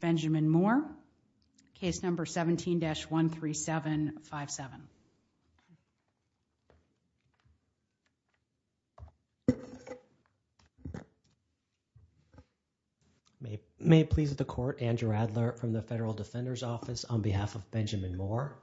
Benjamin Moore, case number 17-13757. May it please the court, Andrew Adler from the Federal Defender's Office on behalf of Benjamin Moore.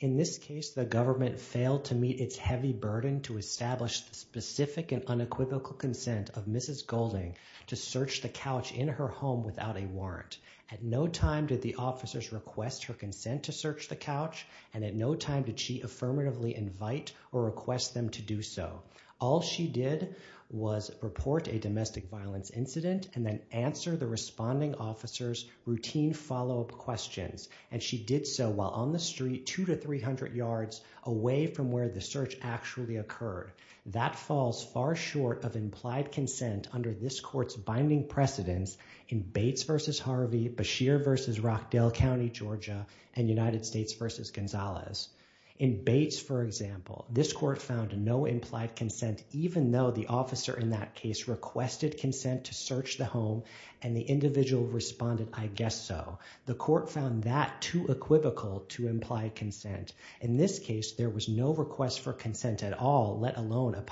In this case, the government failed to meet its heavy burden to establish the specific and unequivocal consent of Mrs. Golding to search the couch in her home without a warrant. At no time did the officers request her consent to search the couch, and at no time did she affirmatively invite or request them to do so. All she did was report a domestic violence incident and then answer the responding officer's routine follow-up questions, and she did so while on the street two to three hundred yards away from where the search actually occurred. That falls far short of implied consent under this court's binding precedence in Bates v. Harvey, Beshear v. Rockdale County, Georgia, and United States v. Gonzalez. In Bates, for example, this court found no implied consent even though the officer in that case requested consent to search the home, and the individual responded, I guess so. The court found that too equivocal to implied consent. In this case, there was no request for consent at all, let alone a warrant,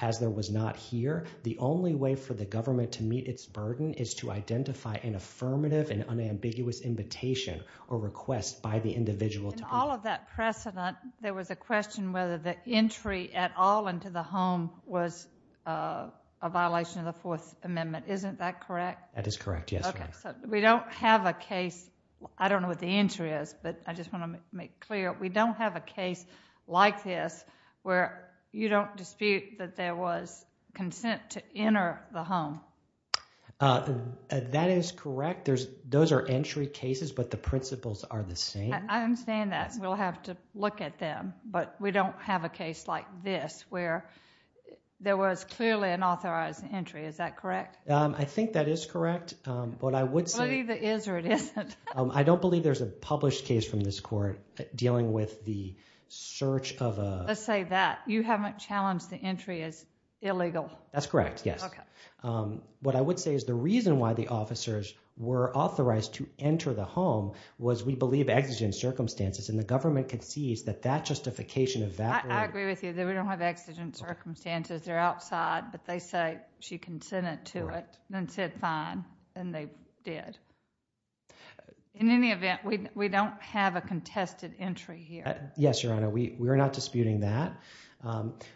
as there was not here. The only way for the government to meet its burden is to identify an affirmative and unambiguous invitation or request by the individual. In all of that precedent, there was a question whether the entry at all into the home was a violation of the Fourth Amendment. Isn't that correct? That is correct, yes. Okay, so we don't have a case, I don't know what the entry is, but I just want to make clear, we don't have a case like this where you don't dispute that there was consent to enter the home. That is correct. Those are entry cases, but the principles are the same. I understand that. We'll have to look at them, but we don't have a case like this where there was clearly an authorized entry. Is that correct? I think that is correct. Believe it is or it isn't. I don't believe there's a published case from this court dealing with the search of a... Let's say that you haven't challenged the entry as illegal. That's correct, yes. What I would say is the reason why the officers were authorized to enter the home was we believe exigent circumstances and the government concedes that that justification of that... I agree with you that we don't have exigent circumstances. They're outside, but they she consented to it and said fine and they did. In any event, we don't have a contested entry here. Yes, Your Honor, we're not disputing that.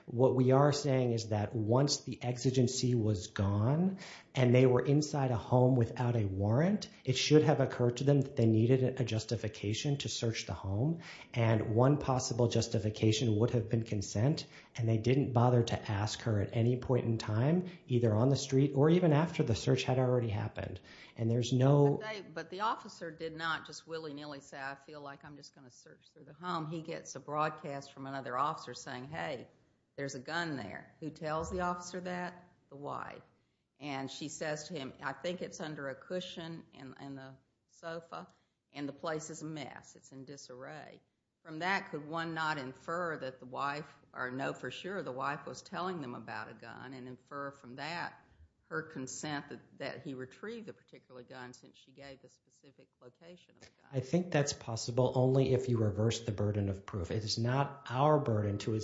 What we are saying is that once the exigency was gone and they were inside a home without a warrant, it should have occurred to them that they needed a justification to search the home and one possible justification would have been consent and they didn't bother to ask her at any point in time either on the street or even after the search had already happened and there's no... But the officer did not just willy-nilly say I feel like I'm just going to search through the home. He gets a broadcast from another officer saying, hey, there's a gun there. Who tells the officer that? The wife and she says to him, I think it's under a cushion in the sofa and the place is a mess. It's in disarray. From that could one not infer that the wife or know for sure the wife was telling them about a gun and infer from that her consent that he retrieved the particular gun since she gave the specific location? I think that's possible only if you reverse the burden of proof. It is not our burden to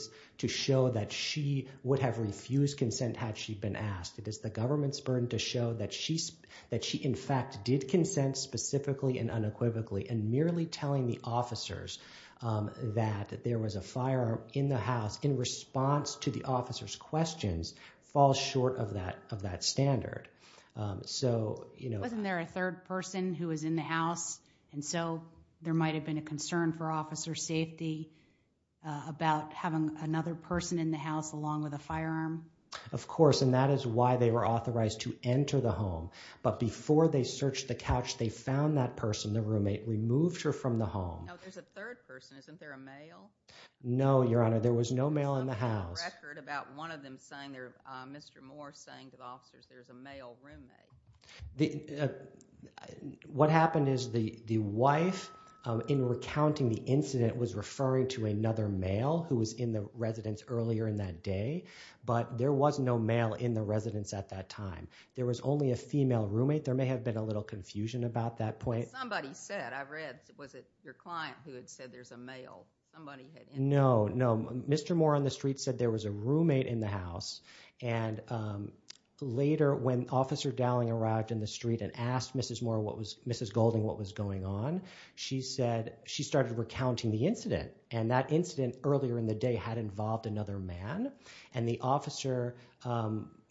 show that she would have refused consent had she been asked. It is the government's burden to show that she in fact did consent specifically and unequivocally and merely telling the officers that there was a firearm in the house in response to the officer's questions falls short of that of that standard. Wasn't there a third person who was in the house and so there might have been a concern for officer safety about having another person in the house along with a firearm? Of course and that is why they were authorized to enter the home. But before they searched the couch, they found that person, the roommate, removed her from the house. No, Your Honor, there was no male in the house. There's a record about one of them saying there Mr. Moore saying to the officers there's a male roommate. What happened is the the wife in recounting the incident was referring to another male who was in the residence earlier in that day but there was no male in the residence at that time. There was only a female roommate. There may have been a little confusion about that point. Somebody said, I've read, was it your client who had said there's a male? No, no, Mr. Moore on the street said there was a roommate in the house and later when Officer Dowling arrived in the street and asked Mrs. Moore, Mrs. Golding, what was going on, she said she started recounting the incident and that incident earlier in the day had involved another man and the officer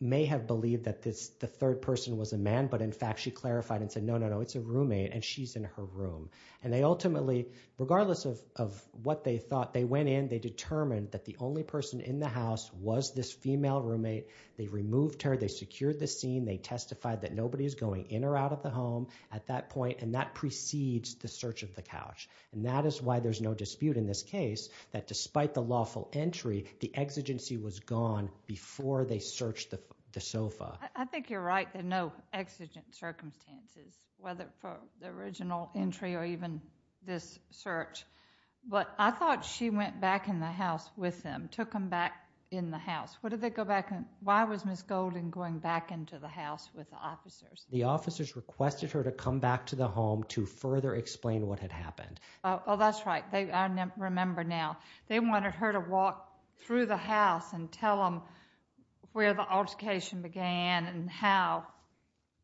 may have believed that this the third person was a man but in fact she clarified and said no, no, no, it's a roommate and she's in her room and they ultimately, regardless of of what they thought, they went in, they determined that the only person in the house was this female roommate. They removed her, they secured the scene, they testified that nobody is going in or out of the home at that point and that precedes the search of the couch and that is why there's no dispute in this case that despite the lawful entry, the exigency was gone before they searched the the sofa. I think you're right, there are no exigent circumstances whether for the original entry or even this search but I thought she went back in the house with them, took them back in the house. What did they go back and why was Mrs. Golding going back into the house with the officers? The officers requested her to come back to the home to further explain what had happened. Oh, that's right. They, I remember now, they wanted her to walk through the house and tell them where the altercation began and how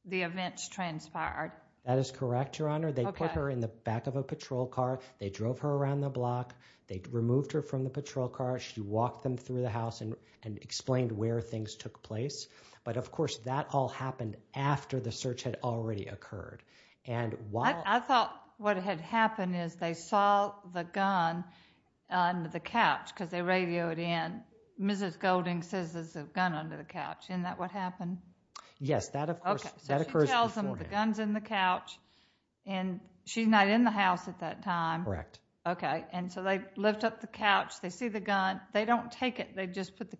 the events transpired. That is correct, your honor. They put her in the back of a patrol car, they drove her around the block, they removed her from the patrol car, she walked them through the house and and explained where things took place but of course that all happened after the search had already occurred. I thought what had happened is they saw the gun under the couch because they radioed in, Mrs. Golding says there's a gun under the couch. Isn't that what happened? Yes, that of course, that occurs beforehand. So she tells them the gun's in the couch and she's not in the house at that time. Correct. Okay, and so they lift up the couch, they see the gun, they don't take it, they just put the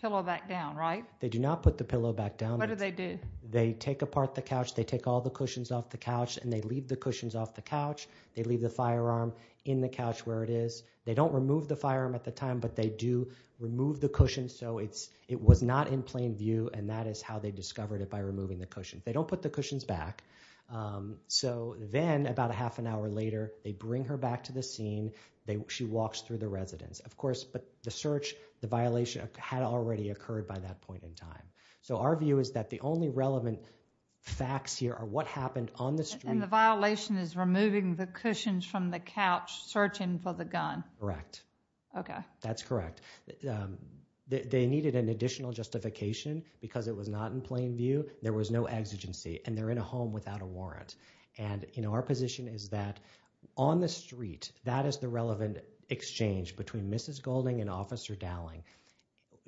pillow back down, right? They do not put the pillow back down. What do they do? They take apart the couch, they take all the cushions off the couch and they leave the cushions off the couch. They leave the firearm in the couch where it is. They don't remove the firearm at the time but they do remove the cushion so it's it was not in plain view and that is how they discovered it by removing the cushion. They don't put the cushions back so then about a half an hour later they bring her back to the scene. She walks through the residence of course but search, the violation had already occurred by that point in time. So our view is that the only relevant facts here are what happened on the street. And the violation is removing the cushions from the couch searching for the gun. Correct. Okay. That's correct. They needed an additional justification because it was not in plain view. There was no exigency and they're in a home without a warrant and you know our position is that on the street that is the relevant exchange between Mrs. Golding and Officer Dowling.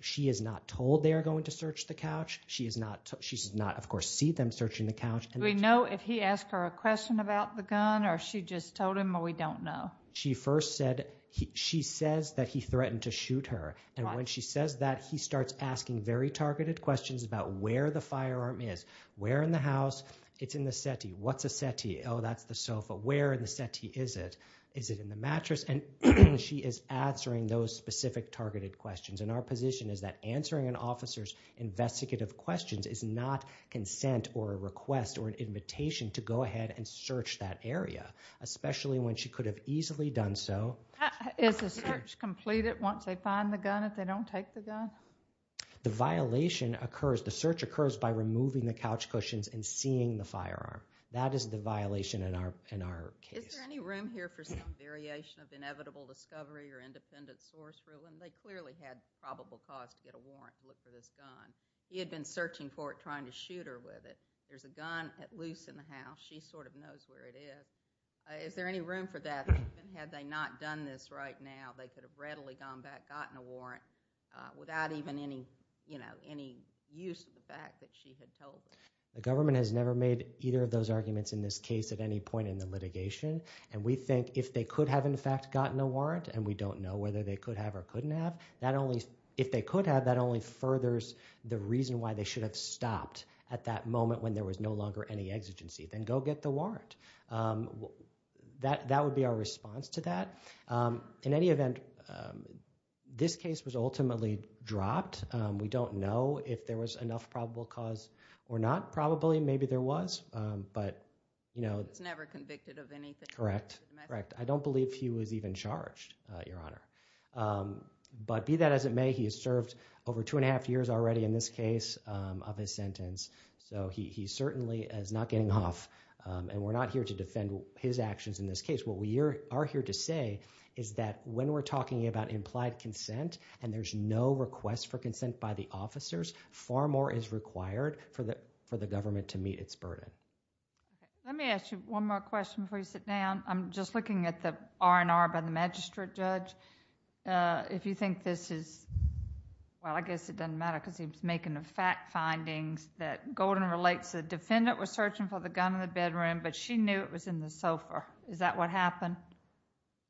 She is not told they are going to search the couch. She is not, she does not of course see them searching the couch. Do we know if he asked her a question about the gun or she just told him or we don't know? She first said, she says that he threatened to shoot her and when she says that he starts asking very targeted questions about where the firearm is. Where in the house? It's in the settee. What's a settee? Oh that's the sofa. Where in the mattress? And she is answering those specific targeted questions and our position is that answering an officer's investigative questions is not consent or a request or an invitation to go ahead and search that area. Especially when she could have easily done so. Is the search completed once they find the gun if they don't take the gun? The violation occurs, the search occurs by removing the couch cushions and seeing the firearm. That is the violation in our case. Is there any room here for some variation of inevitable discovery or independent source rule? And they clearly had probable cause to get a warrant to look for this gun. He had been searching for it trying to shoot her with it. There's a gun at loose in the house. She sort of knows where it is. Is there any room for that? Even had they not done this right now, they could have readily gone back, gotten a warrant without even any, you know, any use of the fact that she had told them. The government has never made either of those arguments in this case at any point in the litigation and we think if they could have in fact gotten a warrant and we don't know whether they could have or couldn't have, that only, if they could have, that only furthers the reason why they should have stopped at that moment when there was no longer any exigency. Then go get the warrant. That would be our response to that. In any event, this case was ultimately dropped. We don't know if there was enough probable cause or not. Probably, maybe there was. But, you know, it's never convicted of anything. Correct. Correct. I don't believe he was even charged, Your Honor. But be that as it may, he has served over two and a half years already in this case of his sentence. So he certainly is not getting off and we're not here to defend his actions in this case. What we are here to say is that when we're talking about implied consent and there's no request for consent by the officers, far more is required for the government to meet its burden. Let me ask you one more question before you sit down. I'm just looking at the R&R by the magistrate judge. If you think this is, well, I guess it doesn't matter because he's making the fact findings that Golden relates the defendant was searching for the gun in the bedroom, but she knew it was in the sofa. Is that what happened?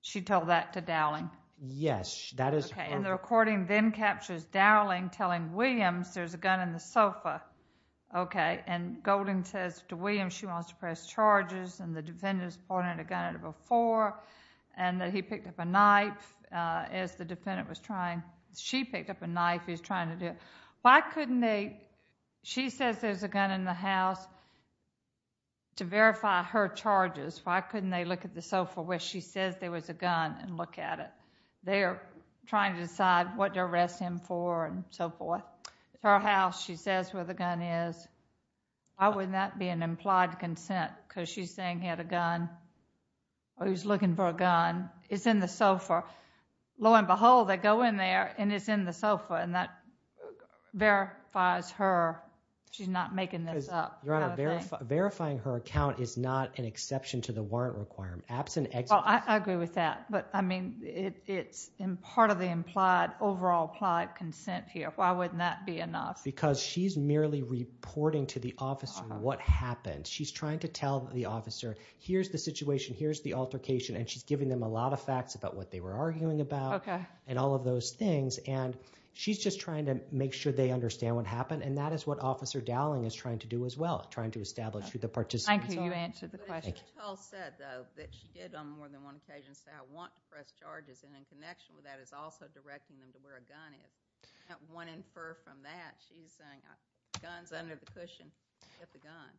She told that to Dowling? Yes. That is her... There's a gun in the sofa. Okay. And Golden says to Williams she wants to press charges and the defendant's pointed a gun at her before and that he picked up a knife as the defendant was trying. She picked up a knife. He's trying to do it. Why couldn't they... She says there's a gun in the house to verify her charges. Why couldn't they look at the sofa where she says there was a gun and look at it? They're trying to decide what to arrest him for and so forth. Her house, she says where the gun is. Why would that be an implied consent? Because she's saying he had a gun or he was looking for a gun. It's in the sofa. Lo and behold, they go in there and it's in the sofa and that verifies her she's not making this up. Your Honor, verifying her account is not an but I mean it's in part of the implied overall implied consent here. Why wouldn't that be enough? Because she's merely reporting to the officer what happened. She's trying to tell the officer here's the situation, here's the altercation and she's giving them a lot of facts about what they were arguing about and all of those things and she's just trying to make sure they understand what happened and that is what Officer Dowling is trying to do as well, trying to establish the participants. Thank you, you answered the question. But she did on more than one occasion say I want to press charges and in connection with that is also directing them to where a gun is. One infer from that, she's saying gun's under the cushion, get the gun,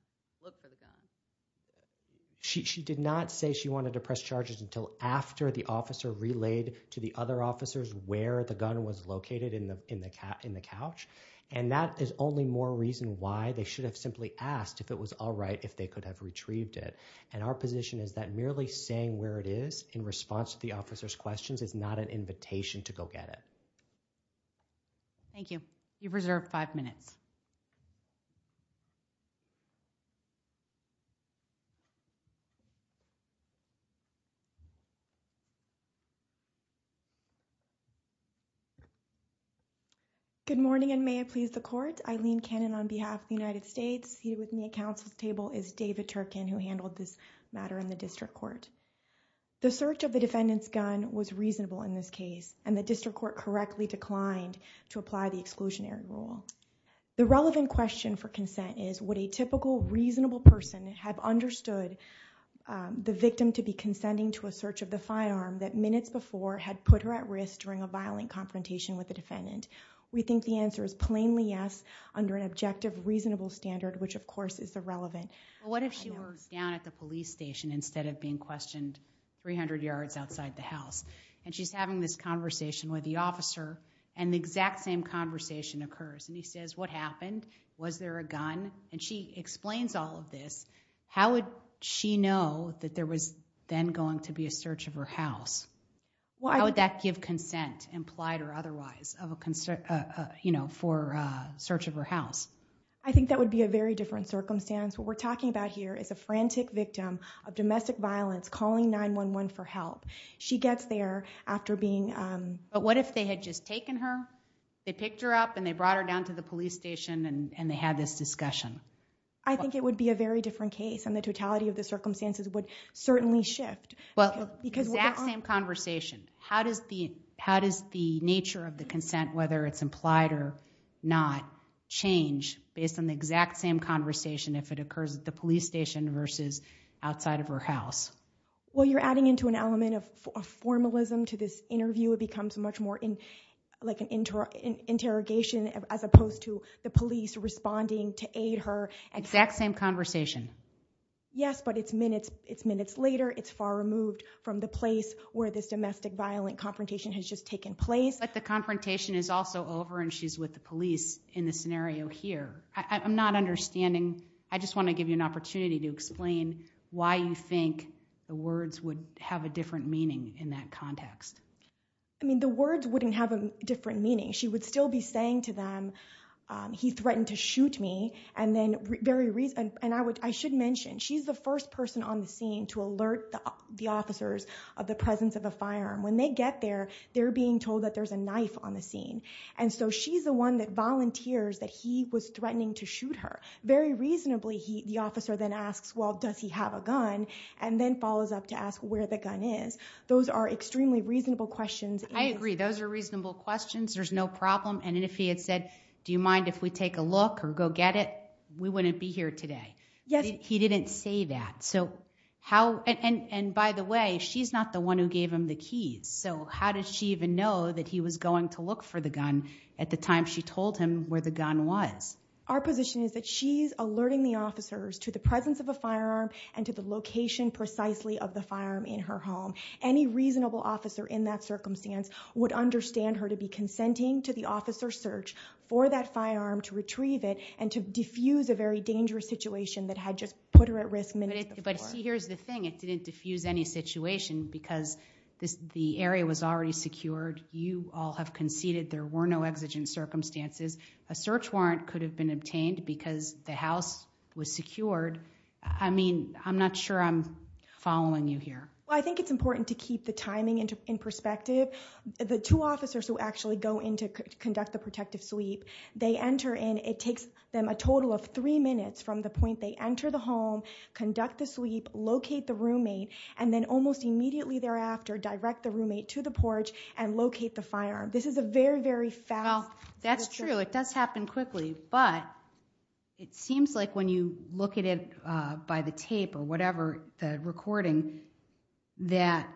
look for the gun. She did not say she wanted to press charges until after the officer relayed to the other officers where the gun was located in the couch and that is only more reason why they should have simply asked if it was all right if they could have retrieved it and our position is that merely saying where it is in response to the officer's questions is not an invitation to go get it. Thank you, you've reserved five minutes. Good morning and may it please the court, Eileen Cannon on behalf of the United States. Seated with me at council's table is David Turkin who handled this matter in the district court. The search of the defendant's gun was reasonable in this case and the district court correctly declined to apply the exclusionary rule. The relevant question for consent is would a typical reasonable person have understood the victim to be consenting to a search of the firearm that minutes before had put her at risk during a violent confrontation with the defendant. We think the answer is plainly yes under an objective reasonable standard which of course is irrelevant. What if she was down at the police station instead of being questioned 300 yards outside the house and she's having this conversation with the officer and the exact same conversation occurs and he says what happened was there a gun and she explains all of this. How would she know that there was then going to be a search of her house? Why would that give consent implied or otherwise of a concern you know for a search of her house? I think that would be a very different circumstance. What we're talking about here is a frantic victim of domestic violence calling 9-1-1 for help. She gets there after being um. But what if they had just taken her? They picked her up and they brought her down to the police station and and they had this discussion. I think it would be a very different case and the totality of the circumstances would certainly shift. Well because that same conversation how does the how does the nature of the consent whether it's implied or not change based on the exact same conversation if it occurs at the police station versus outside of her house? Well you're adding into an element of formalism to this interview it becomes much more in like an interrogation as opposed to the police responding to aid her. Exact same conversation. Yes but it's minutes it's minutes later it's far removed from the place where this domestic violent confrontation has just taken place. But the confrontation is also over and she's with the police in the scenario here. I'm not understanding. I just want to give you an opportunity to explain why you think the words would have a different meaning in that context. I mean the words wouldn't have a different meaning. She would still be saying to them um he threatened to shoot me and then very reason and I would I should mention she's the first person on the scene to alert the officers of the presence of a firearm. When they get there they're being told that there's a knife on the scene and so she's the one that volunteers that he was threatening to shoot her. Very reasonably he the officer then asks well does he have a gun and then follows up to ask where the gun is. Those are extremely reasonable questions. I agree those are reasonable questions there's no problem and if he had said do you mind if we take a look or go get it we wouldn't be here today. Yes. He didn't say that so how and and by the way she's not the one who gave him the keys so how did she even know that he was going to look for the gun at the time she told him where the gun was. Our position is that she's alerting the officers to the presence of a firearm and to the location precisely of the firearm in her home. Any reasonable officer in that circumstance would understand her to be consenting to the officer's search for that firearm to retrieve it and to diffuse a very dangerous situation that had just put her at risk minutes before. But see here's the thing it didn't diffuse any situation because this the area was already secured. You all have conceded there were no exigent circumstances. A search warrant could have been obtained because the house was secured. I mean I'm not sure I'm following you here. Well I think it's important to keep the timing into in perspective. The two officers who actually go in to conduct the protective sweep they enter in it takes them a total of three minutes from the point they enter the home conduct the sweep locate the roommate and then almost immediately thereafter direct the roommate to the porch and locate the firearm. This is a very very fast. Well that's true it does happen quickly but it seems like when you look at it by the tape or whatever the recording that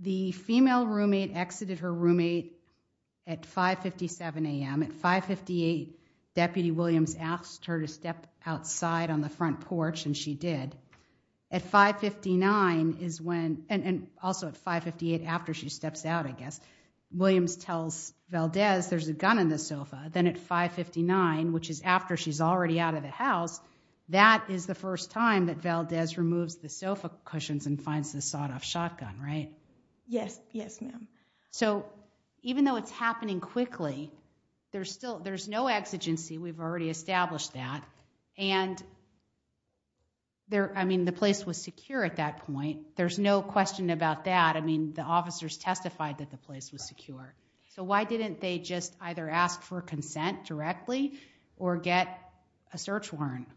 the female roommate exited her roommate at 5 57 a.m. At 5 58 deputy Williams asked her to step outside on the front porch and she did at 5 59 is when and also at 5 58 after she steps out I guess Williams tells Valdez there's a gun in the sofa then at 5 59 which is after she's already out of the house that is the first time that Valdez removes the sofa cushions and finds the sawed-off shotgun right. Yes yes ma'am. So even though it's happening quickly there's still there's no exigency we've already established that and there I mean the place was secure at that point there's no question about that I mean the officers testified that the place was secure so why didn't they just either ask for consent directly or get a search warrant?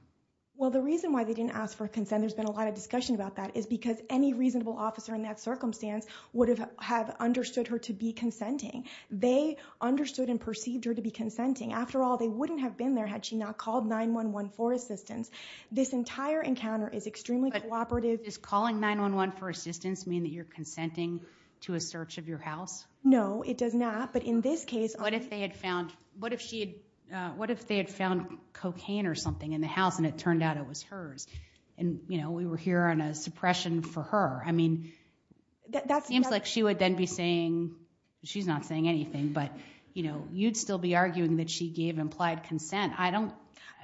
Well the reason why they didn't ask for consent there's been a lot of discussion about that is because any reasonable officer in that circumstance would have understood her to be consenting they understood and perceived her to be consenting after all they wouldn't have been there had she not called 9-1-1 for assistance this entire encounter is extremely cooperative. Is calling 9-1-1 for assistance mean that you're consenting to a search of your house? No it does not but in this case what if they had found what if she had what if they had found cocaine or something in the house and it turned out it was hers and you know we were here on a suppression for her I mean that seems like she would then be saying she's not saying anything but you know you'd still be arguing that she gave implied consent I don't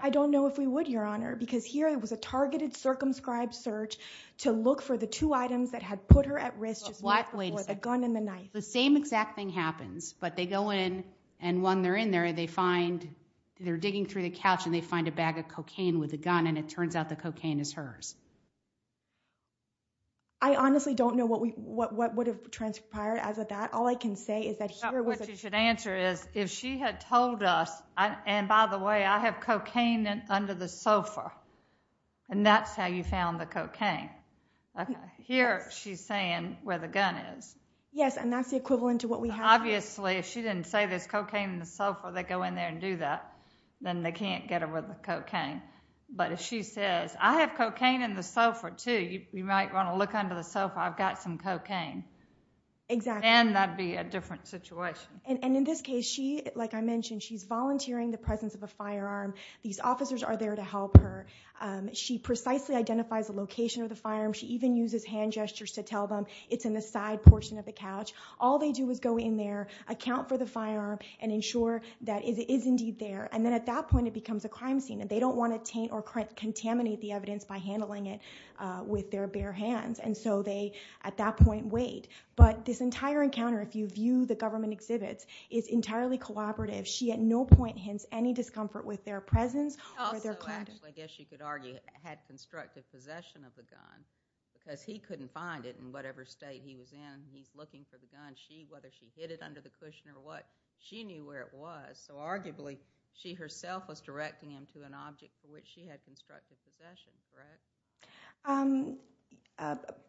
I don't know if we would your honor because here it was a targeted circumscribed search to look for the two items that had put her at risk just wait a second the gun and the knife the same exact thing happens but they go in and when they're in there they find they're digging through the couch and they find a bag of cocaine with a gun and it what what would have transpired as of that all I can say is that here what you should answer is if she had told us and by the way I have cocaine under the sofa and that's how you found the cocaine okay here she's saying where the gun is yes and that's the equivalent to what we have obviously if she didn't say there's cocaine in the sofa they go in there and do that then they can't get over the cocaine but if she says I have cocaine in the sofa too you might want to look under the sofa I've got some cocaine exactly and that'd be a different situation and in this case she like I mentioned she's volunteering the presence of a firearm these officers are there to help her she precisely identifies the location of the firearm she even uses hand gestures to tell them it's in the side portion of the couch all they do is go in there account for the firearm and ensure that it is indeed there and then at that point it becomes a crime scene and they don't want to taint or contaminate the evidence by handling it with their bare hands and so they at that point wait but this entire encounter if you view the government exhibits is entirely collaborative she at no point hints any discomfort with their presence or their conduct I guess you could argue had constructive possession of the gun because he couldn't find it in whatever state he was in he's looking for the gun she whether she hid it under the cushion or what she knew where it was so arguably she herself was directing him to an object for which she had constructed possessions right um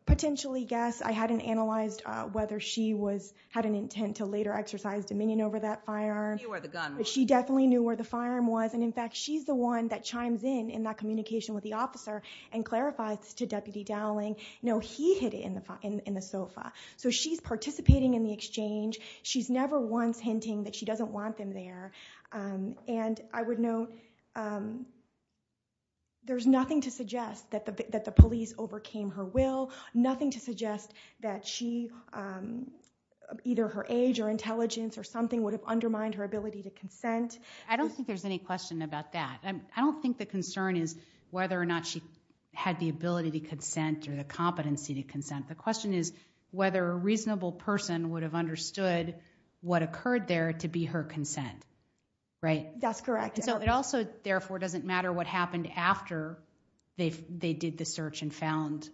potentially guess I hadn't analyzed whether she was had an intent to later exercise dominion over that firearm you were the gun but she definitely knew where the firearm was and in fact she's the one that chimes in in that communication with the officer and clarifies to deputy Dowling no he hid it in the in the sofa so she's participating in the exchange she's never once hinting that she doesn't want them there and I would note there's nothing to suggest that that the police overcame her will nothing to suggest that she either her age or intelligence or something would have undermined her ability to consent I don't think there's any question about that I don't think the concern is whether or not she had the ability to consent or the competency to consent the question is whether a reasonable person would have understood what occurred there to be her consent right that's correct so it also therefore doesn't matter what happened after they they did the search and found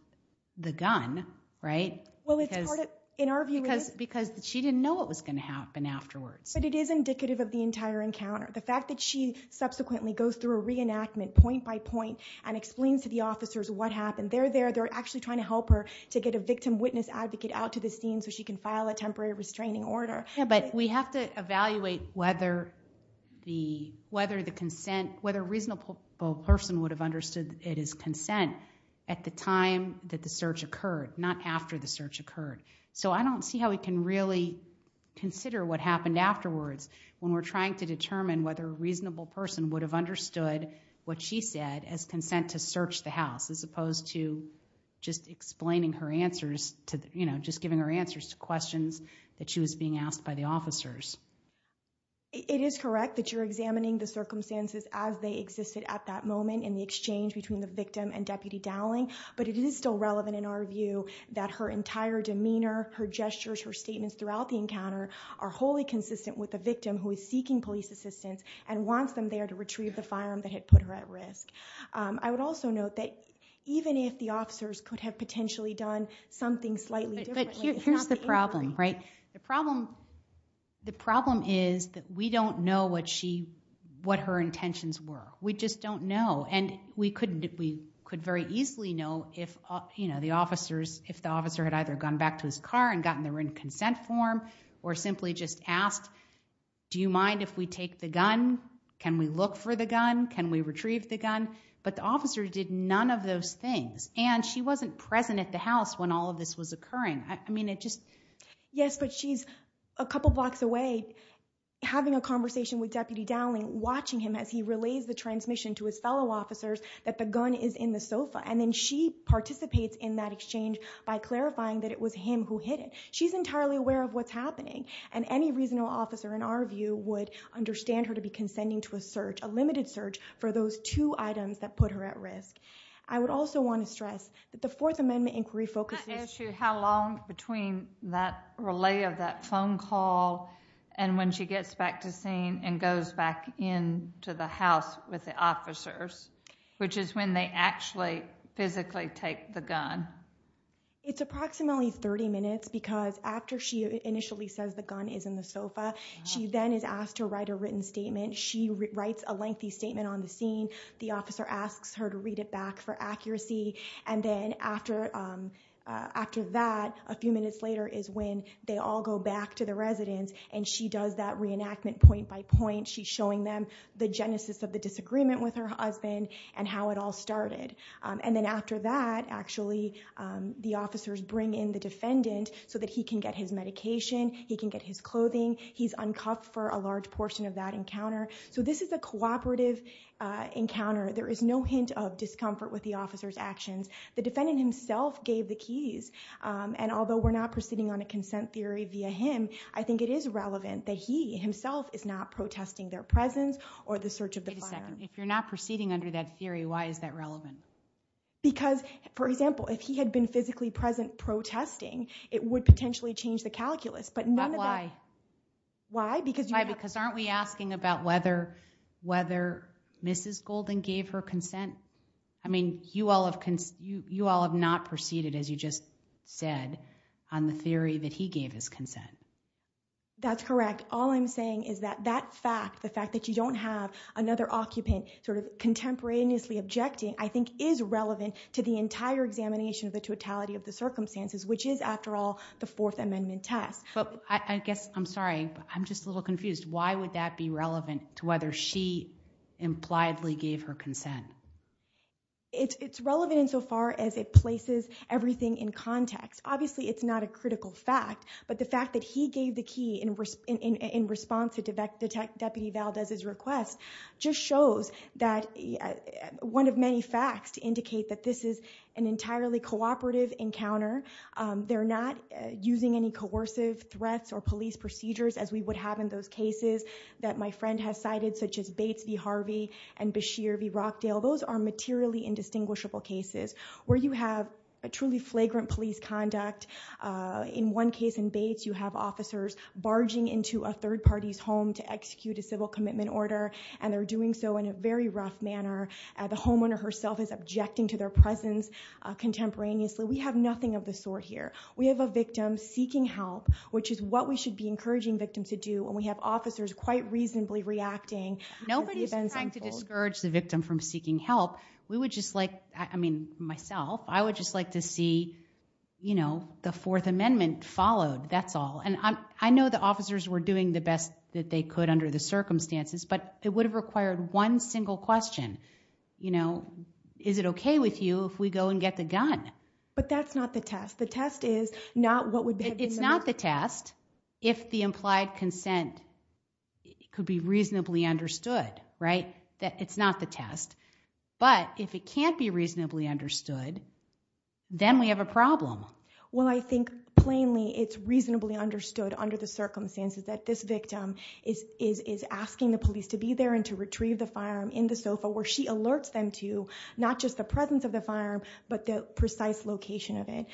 the gun right well it's part of in our view because because she didn't know what was going to happen afterwards but it is indicative of the entire encounter the fact that she subsequently goes through a reenactment point by point and explains to the to get a victim witness advocate out to the scene so she can file a temporary restraining order but we have to evaluate whether the whether the consent whether a reasonable person would have understood it is consent at the time that the search occurred not after the search occurred so I don't see how we can really consider what happened afterwards when we're trying to determine whether a reasonable person would have understood what she said as consent to search the house as just explaining her answers to you know just giving her answers to questions that she was being asked by the officers it is correct that you're examining the circumstances as they existed at that moment in the exchange between the victim and deputy dowling but it is still relevant in our view that her entire demeanor her gestures her statements throughout the encounter are wholly consistent with the victim who is seeking police assistance and wants them there to retrieve the could have potentially done something slightly but here's the problem right the problem the problem is that we don't know what she what her intentions were we just don't know and we couldn't we could very easily know if you know the officers if the officer had either gone back to his car and gotten there in consent form or simply just asked do you mind if we take the gun can we look for the wasn't present at the house when all of this was occurring I mean it just yes but she's a couple blocks away having a conversation with deputy dowling watching him as he relays the transmission to his fellow officers that the gun is in the sofa and then she participates in that exchange by clarifying that it was him who hit it she's entirely aware of what's happening and any reasonable officer in our view would understand her to be consenting to a search a limited search for those two items that put her at risk I would also want to stress that the fourth amendment inquiry focuses how long between that relay of that phone call and when she gets back to scene and goes back in to the house with the officers which is when they actually physically take the gun it's approximately 30 minutes because after she initially says the gun is in the sofa she then is asked to write a written statement she writes a lengthy statement on the scene the officer asks her to read it back for accuracy and then after after that a few minutes later is when they all go back to the residence and she does that reenactment point by point she's showing them the genesis of the disagreement with her husband and how it all started and then after that actually the officers bring in the defendant so that he can get his medication he can get his a large portion of that encounter so this is a cooperative encounter there is no hint of discomfort with the officer's actions the defendant himself gave the keys and although we're not proceeding on a consent theory via him I think it is relevant that he himself is not protesting their presence or the search of the fire if you're not proceeding under that theory why is that relevant because for example if he had been physically present protesting it would potentially change the calculus but why why because why because aren't we asking about whether whether mrs golden gave her consent I mean you all have you you all have not proceeded as you just said on the theory that he gave his consent that's correct all I'm saying is that that fact the fact that you don't have another occupant sort of contemporaneously objecting I think is relevant to the entire examination of the totality of the circumstances which is after all the fourth amendment test but I guess I'm sorry I'm just a little confused why would that be relevant to whether she impliedly gave her consent it's relevant insofar as it places everything in context obviously it's not a critical fact but the fact that he gave the key in response to detect deputy Valdez's request just shows that one of many facts to indicate that this is an entirely cooperative encounter they're not using any coercive threats or police procedures as we would have in those cases that my friend has cited such as Bates v Harvey and Bashir v Rockdale those are materially indistinguishable cases where you have a truly flagrant police conduct in one case in Bates you have officers barging into a third party's home to execute a civil commitment order and they're doing so in a very rough manner the homeowner herself is objecting to their presence contemporaneously we have nothing of the sort here we have a victim seeking help which is what we should be encouraging victims to do when we have officers quite reasonably reacting nobody's trying to discourage the victim from seeking help we would just like I mean myself I would just like to see you know the fourth amendment followed that's all and I'm I know the officers were doing the best that they could under the circumstances but it would have required one single question you know is it okay with you if we go and get the gun but that's not the test the test is not what would be it's not the test if the implied consent could be reasonably understood right that it's not the test but if it can't be reasonably understood then we have a problem well I think plainly it's reasonably understood under the and to retrieve the firearm in the sofa where she alerts them to not just the presence of the firearm but the precise location of it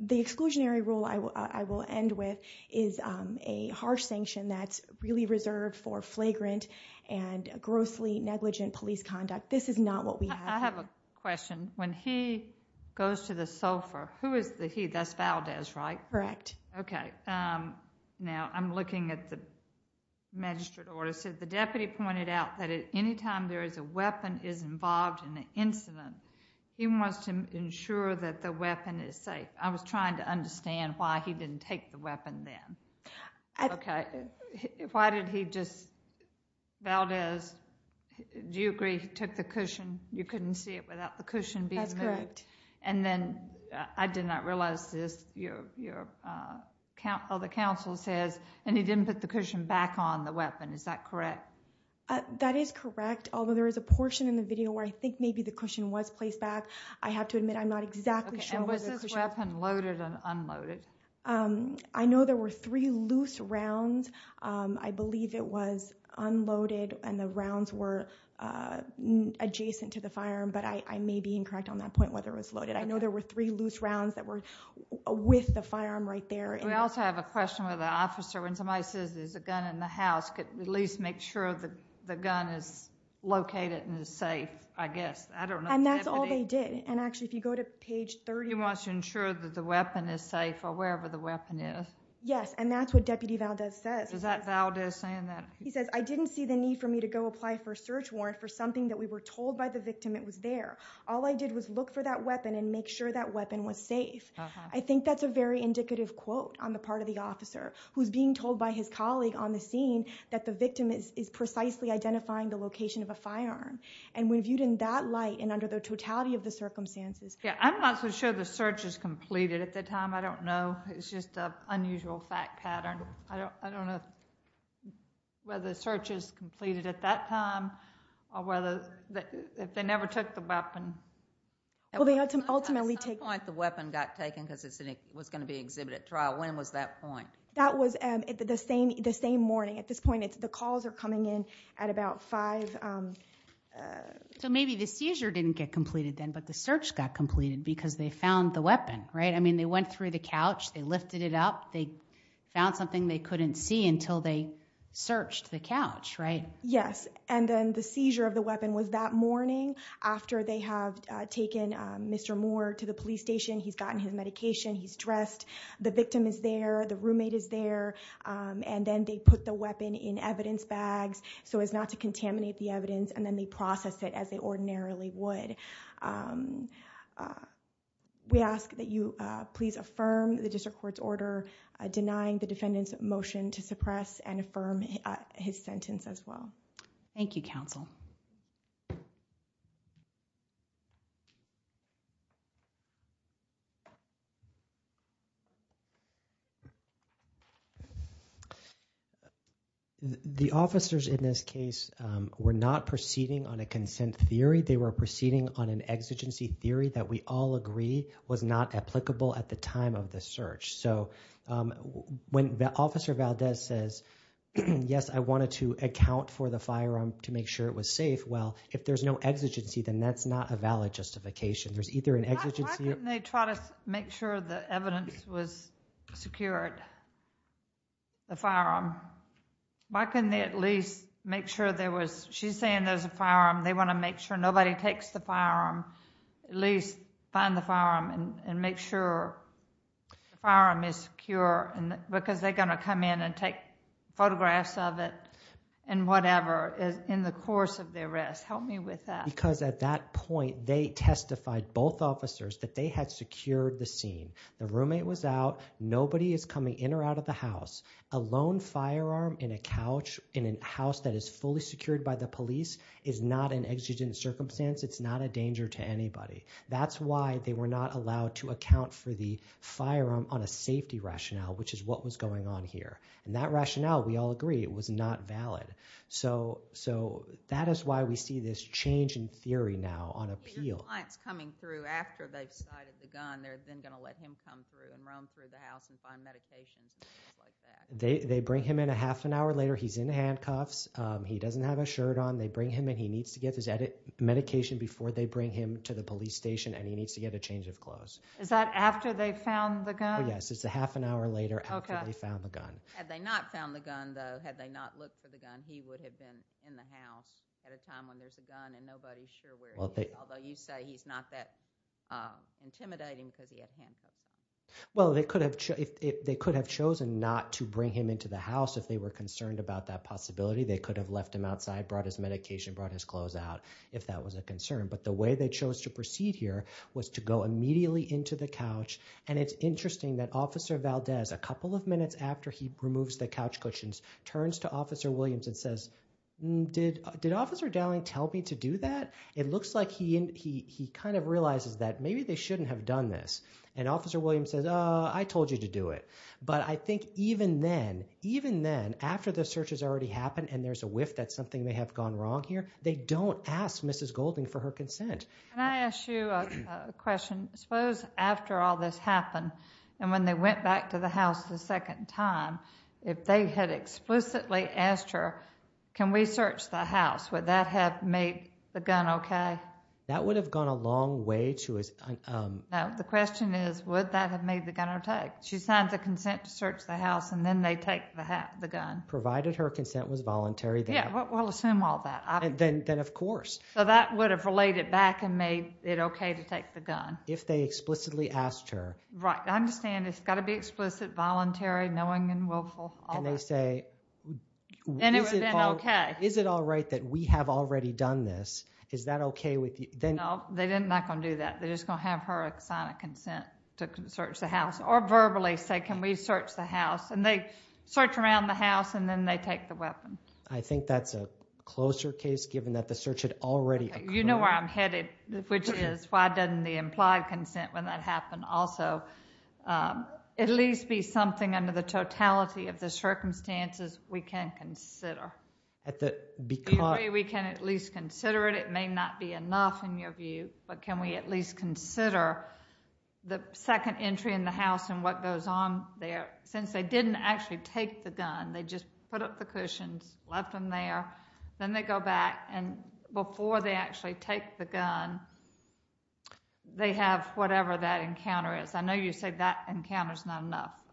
the exclusionary rule I will I will end with is a harsh sanction that's really reserved for flagrant and grossly negligent police conduct this is not what we have I have a question when he goes to the sofa who is the he that's Valdez right correct okay um now I'm looking at the magistrate order so the deputy pointed out that at any time there is a weapon is involved in the incident he wants to ensure that the weapon is safe I was trying to understand why he didn't take the weapon then okay why did he just Valdez do you agree he took the cushion you couldn't see it without the cushion that's correct and then I did not realize this your your uh count all the council says and he didn't put the cushion back on the weapon is that correct uh that is correct although there is a portion in the video where I think maybe the cushion was placed back I have to admit I'm not exactly sure and was this weapon loaded and unloaded um I know there were three loose rounds um I believe it was unloaded and the rounds were uh adjacent to the firearm but I I may be incorrect on that point whether it was loaded I know there were three loose rounds that were with the firearm right there we also have a question with the officer when somebody says there's a gun in the house could at least make sure that the gun is located and is safe I guess I don't know and that's all they did and actually if you go to page 30 wants to ensure that the weapon is safe or wherever the need for me to go apply for a search warrant for something that we were told by the victim it was there all I did was look for that weapon and make sure that weapon was safe I think that's a very indicative quote on the part of the officer who's being told by his colleague on the scene that the victim is precisely identifying the location of a firearm and we viewed in that light and under the totality of the circumstances yeah I'm not so sure the search is completed at the time I don't know it's just a unusual fact pattern I don't I don't know whether the search is completed at that time or whether that if they never took the weapon well they had to ultimately take point the weapon got taken because it was going to be exhibited trial when was that point that was um the same the same morning at this point it's the calls are coming in at about five um so maybe the seizure didn't get completed then but the search got completed because they found the weapon right I mean they went through the couch they lifted it up they found something they couldn't see until they searched the couch right yes and then the seizure of the weapon was that morning after they have taken Mr. Moore to the police station he's gotten his medication he's dressed the victim is there the roommate is there and then they put the weapon in evidence bags so as not to contaminate the evidence and then they process it as they ordinarily would um we ask that you uh please affirm the district court's order denying the defendant's motion to suppress and affirm his sentence as well thank you counsel um the officers in this case um were not proceeding on a consent theory they were proceeding on an exigency theory that we all agree was not applicable at the time of the search so um when the officer Valdez says yes I wanted to account for the firearm to make sure it was safe well if there's no exigency then that's not a valid justification there's either an exigency make sure the evidence was secured the firearm why couldn't they at least make sure there was she's saying there's a firearm they want to make sure nobody takes the firearm at least find the firearm and make sure the firearm is secure and because they're going to come in and help me with that because at that point they testified both officers that they had secured the scene the roommate was out nobody is coming in or out of the house a lone firearm in a couch in a house that is fully secured by the police is not an exigent circumstance it's not a danger to anybody that's why they were not allowed to account for the firearm on a safety rationale which is what was going on here and that rationale we all agree it was not valid so so that is why we see this change in theory now on appeal clients coming through after they've cited the gun they're then going to let him come through and roam through the house and find medications they they bring him in a half an hour later he's in handcuffs um he doesn't have a shirt on they bring him and he needs to get his medication before they bring him to the police station and he needs to get a change of clothes is that after they found the gun yes it's a half an hour later okay they found the gun had they not found the gun though had they not looked for the gun he would have been in the house at a time when there's a gun and nobody's sure where although you say he's not that intimidating because he had handcuffs well they could have if they could have chosen not to bring him into the house if they were concerned about that possibility they could have left him outside brought his medication brought his clothes out if that was a concern but the way they chose to proceed here was to go immediately into the couch and it's interesting that officer valdez a couple of minutes after he removes the couch cushions turns to officer williams and says did did officer dowling tell me to do that it looks like he he he kind of realizes that maybe they shouldn't have done this and officer williams says uh i told you to do it but i think even then even then after the search has already happened and there's a whiff that's something they have gone wrong here they don't ask mrs golding for her consent can i ask you a question suppose after all this happened and when they went back to the house the second time if they had explicitly asked her can we search the house would that have made the gun okay that would have gone a long way to his um now the question is would that have made the gun or take she signs a consent to search the house and then they take the hat the gun provided her consent was voluntary yeah we'll assume all that then then of course so that would have related back and made it okay to take the gun if they explicitly asked her right i understand it's and they say okay is it all right that we have already done this is that okay with you then no they didn't not gonna do that they're just gonna have her sign a consent to search the house or verbally say can we search the house and they search around the house and then they take the weapon i think that's a closer case given that the search had already you know where i'm headed which is why doesn't the implied consent when that happened also um at least be something under the totality of the circumstances we can consider at the because we can at least consider it it may not be enough in your view but can we at least consider the second entry in the house and what goes on there since they didn't actually take the gun they just put up the cushions left them there then they go back and before they actually take the gun they have whatever that encounter is i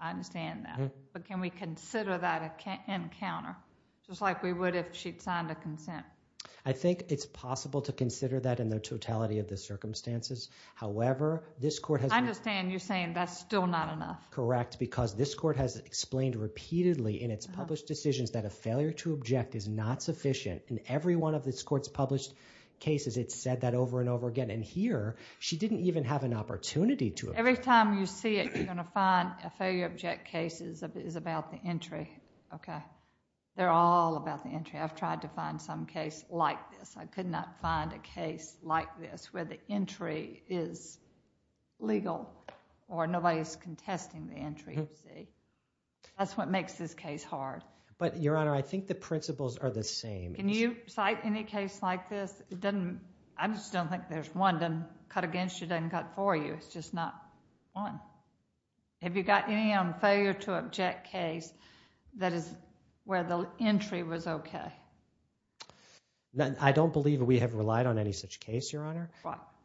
understand that but can we consider that encounter just like we would if she'd signed a consent i think it's possible to consider that in the totality of the circumstances however this court has i understand you're saying that's still not enough correct because this court has explained repeatedly in its published decisions that a failure to object is not sufficient in every one of this court's published cases it said that over and over again and here she didn't even have an opportunity to every time you see it you're going to find a failure object cases of is about the entry okay they're all about the entry i've tried to find some case like this i could not find a case like this where the entry is legal or nobody's contesting the entry you see that's what makes this case hard but your honor i think the principles are the same can you cite any case like this it doesn't i just don't think there's one doesn't cut against you doesn't cut for you it's just not one have you got any on failure to object case that is where the entry was okay i don't believe we have relied on any such case your honor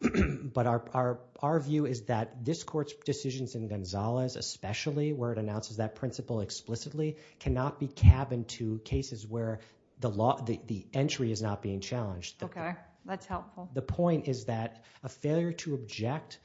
but our our our view is that this court's decisions in gonzalez especially where it announces that principle explicitly cannot be cabined to cases where the law the entry is not being challenged okay that's helpful the point is that a failure to object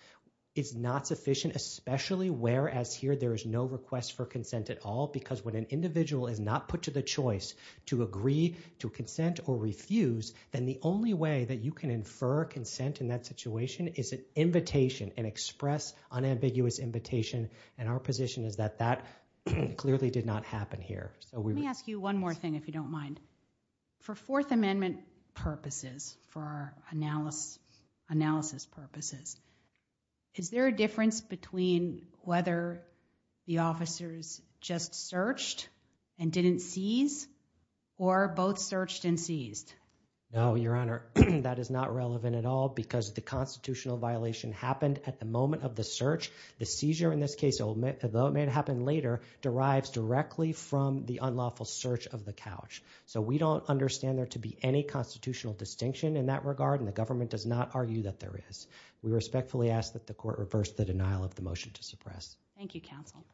is not sufficient especially whereas here there is no request for consent at all because when an individual is not put to the choice to agree to consent or refuse then the only way that you can infer consent in that situation is an invitation and express unambiguous invitation and our position is that that clearly did not happen here so we ask you one more thing if you don't mind for fourth amendment purposes for our analysis analysis purposes is there a difference between whether the officers just searched and didn't seize or both searched and seized no your honor that is not relevant at all because the constitutional violation happened at the moment of the search the seizure in this case although it may have happened later derives directly from the unlawful search of the couch so we don't understand there to be any constitutional distinction in that regard and the government does not argue that there is we respectfully ask that the court reverse the denial of the motion to suppress thank you counsel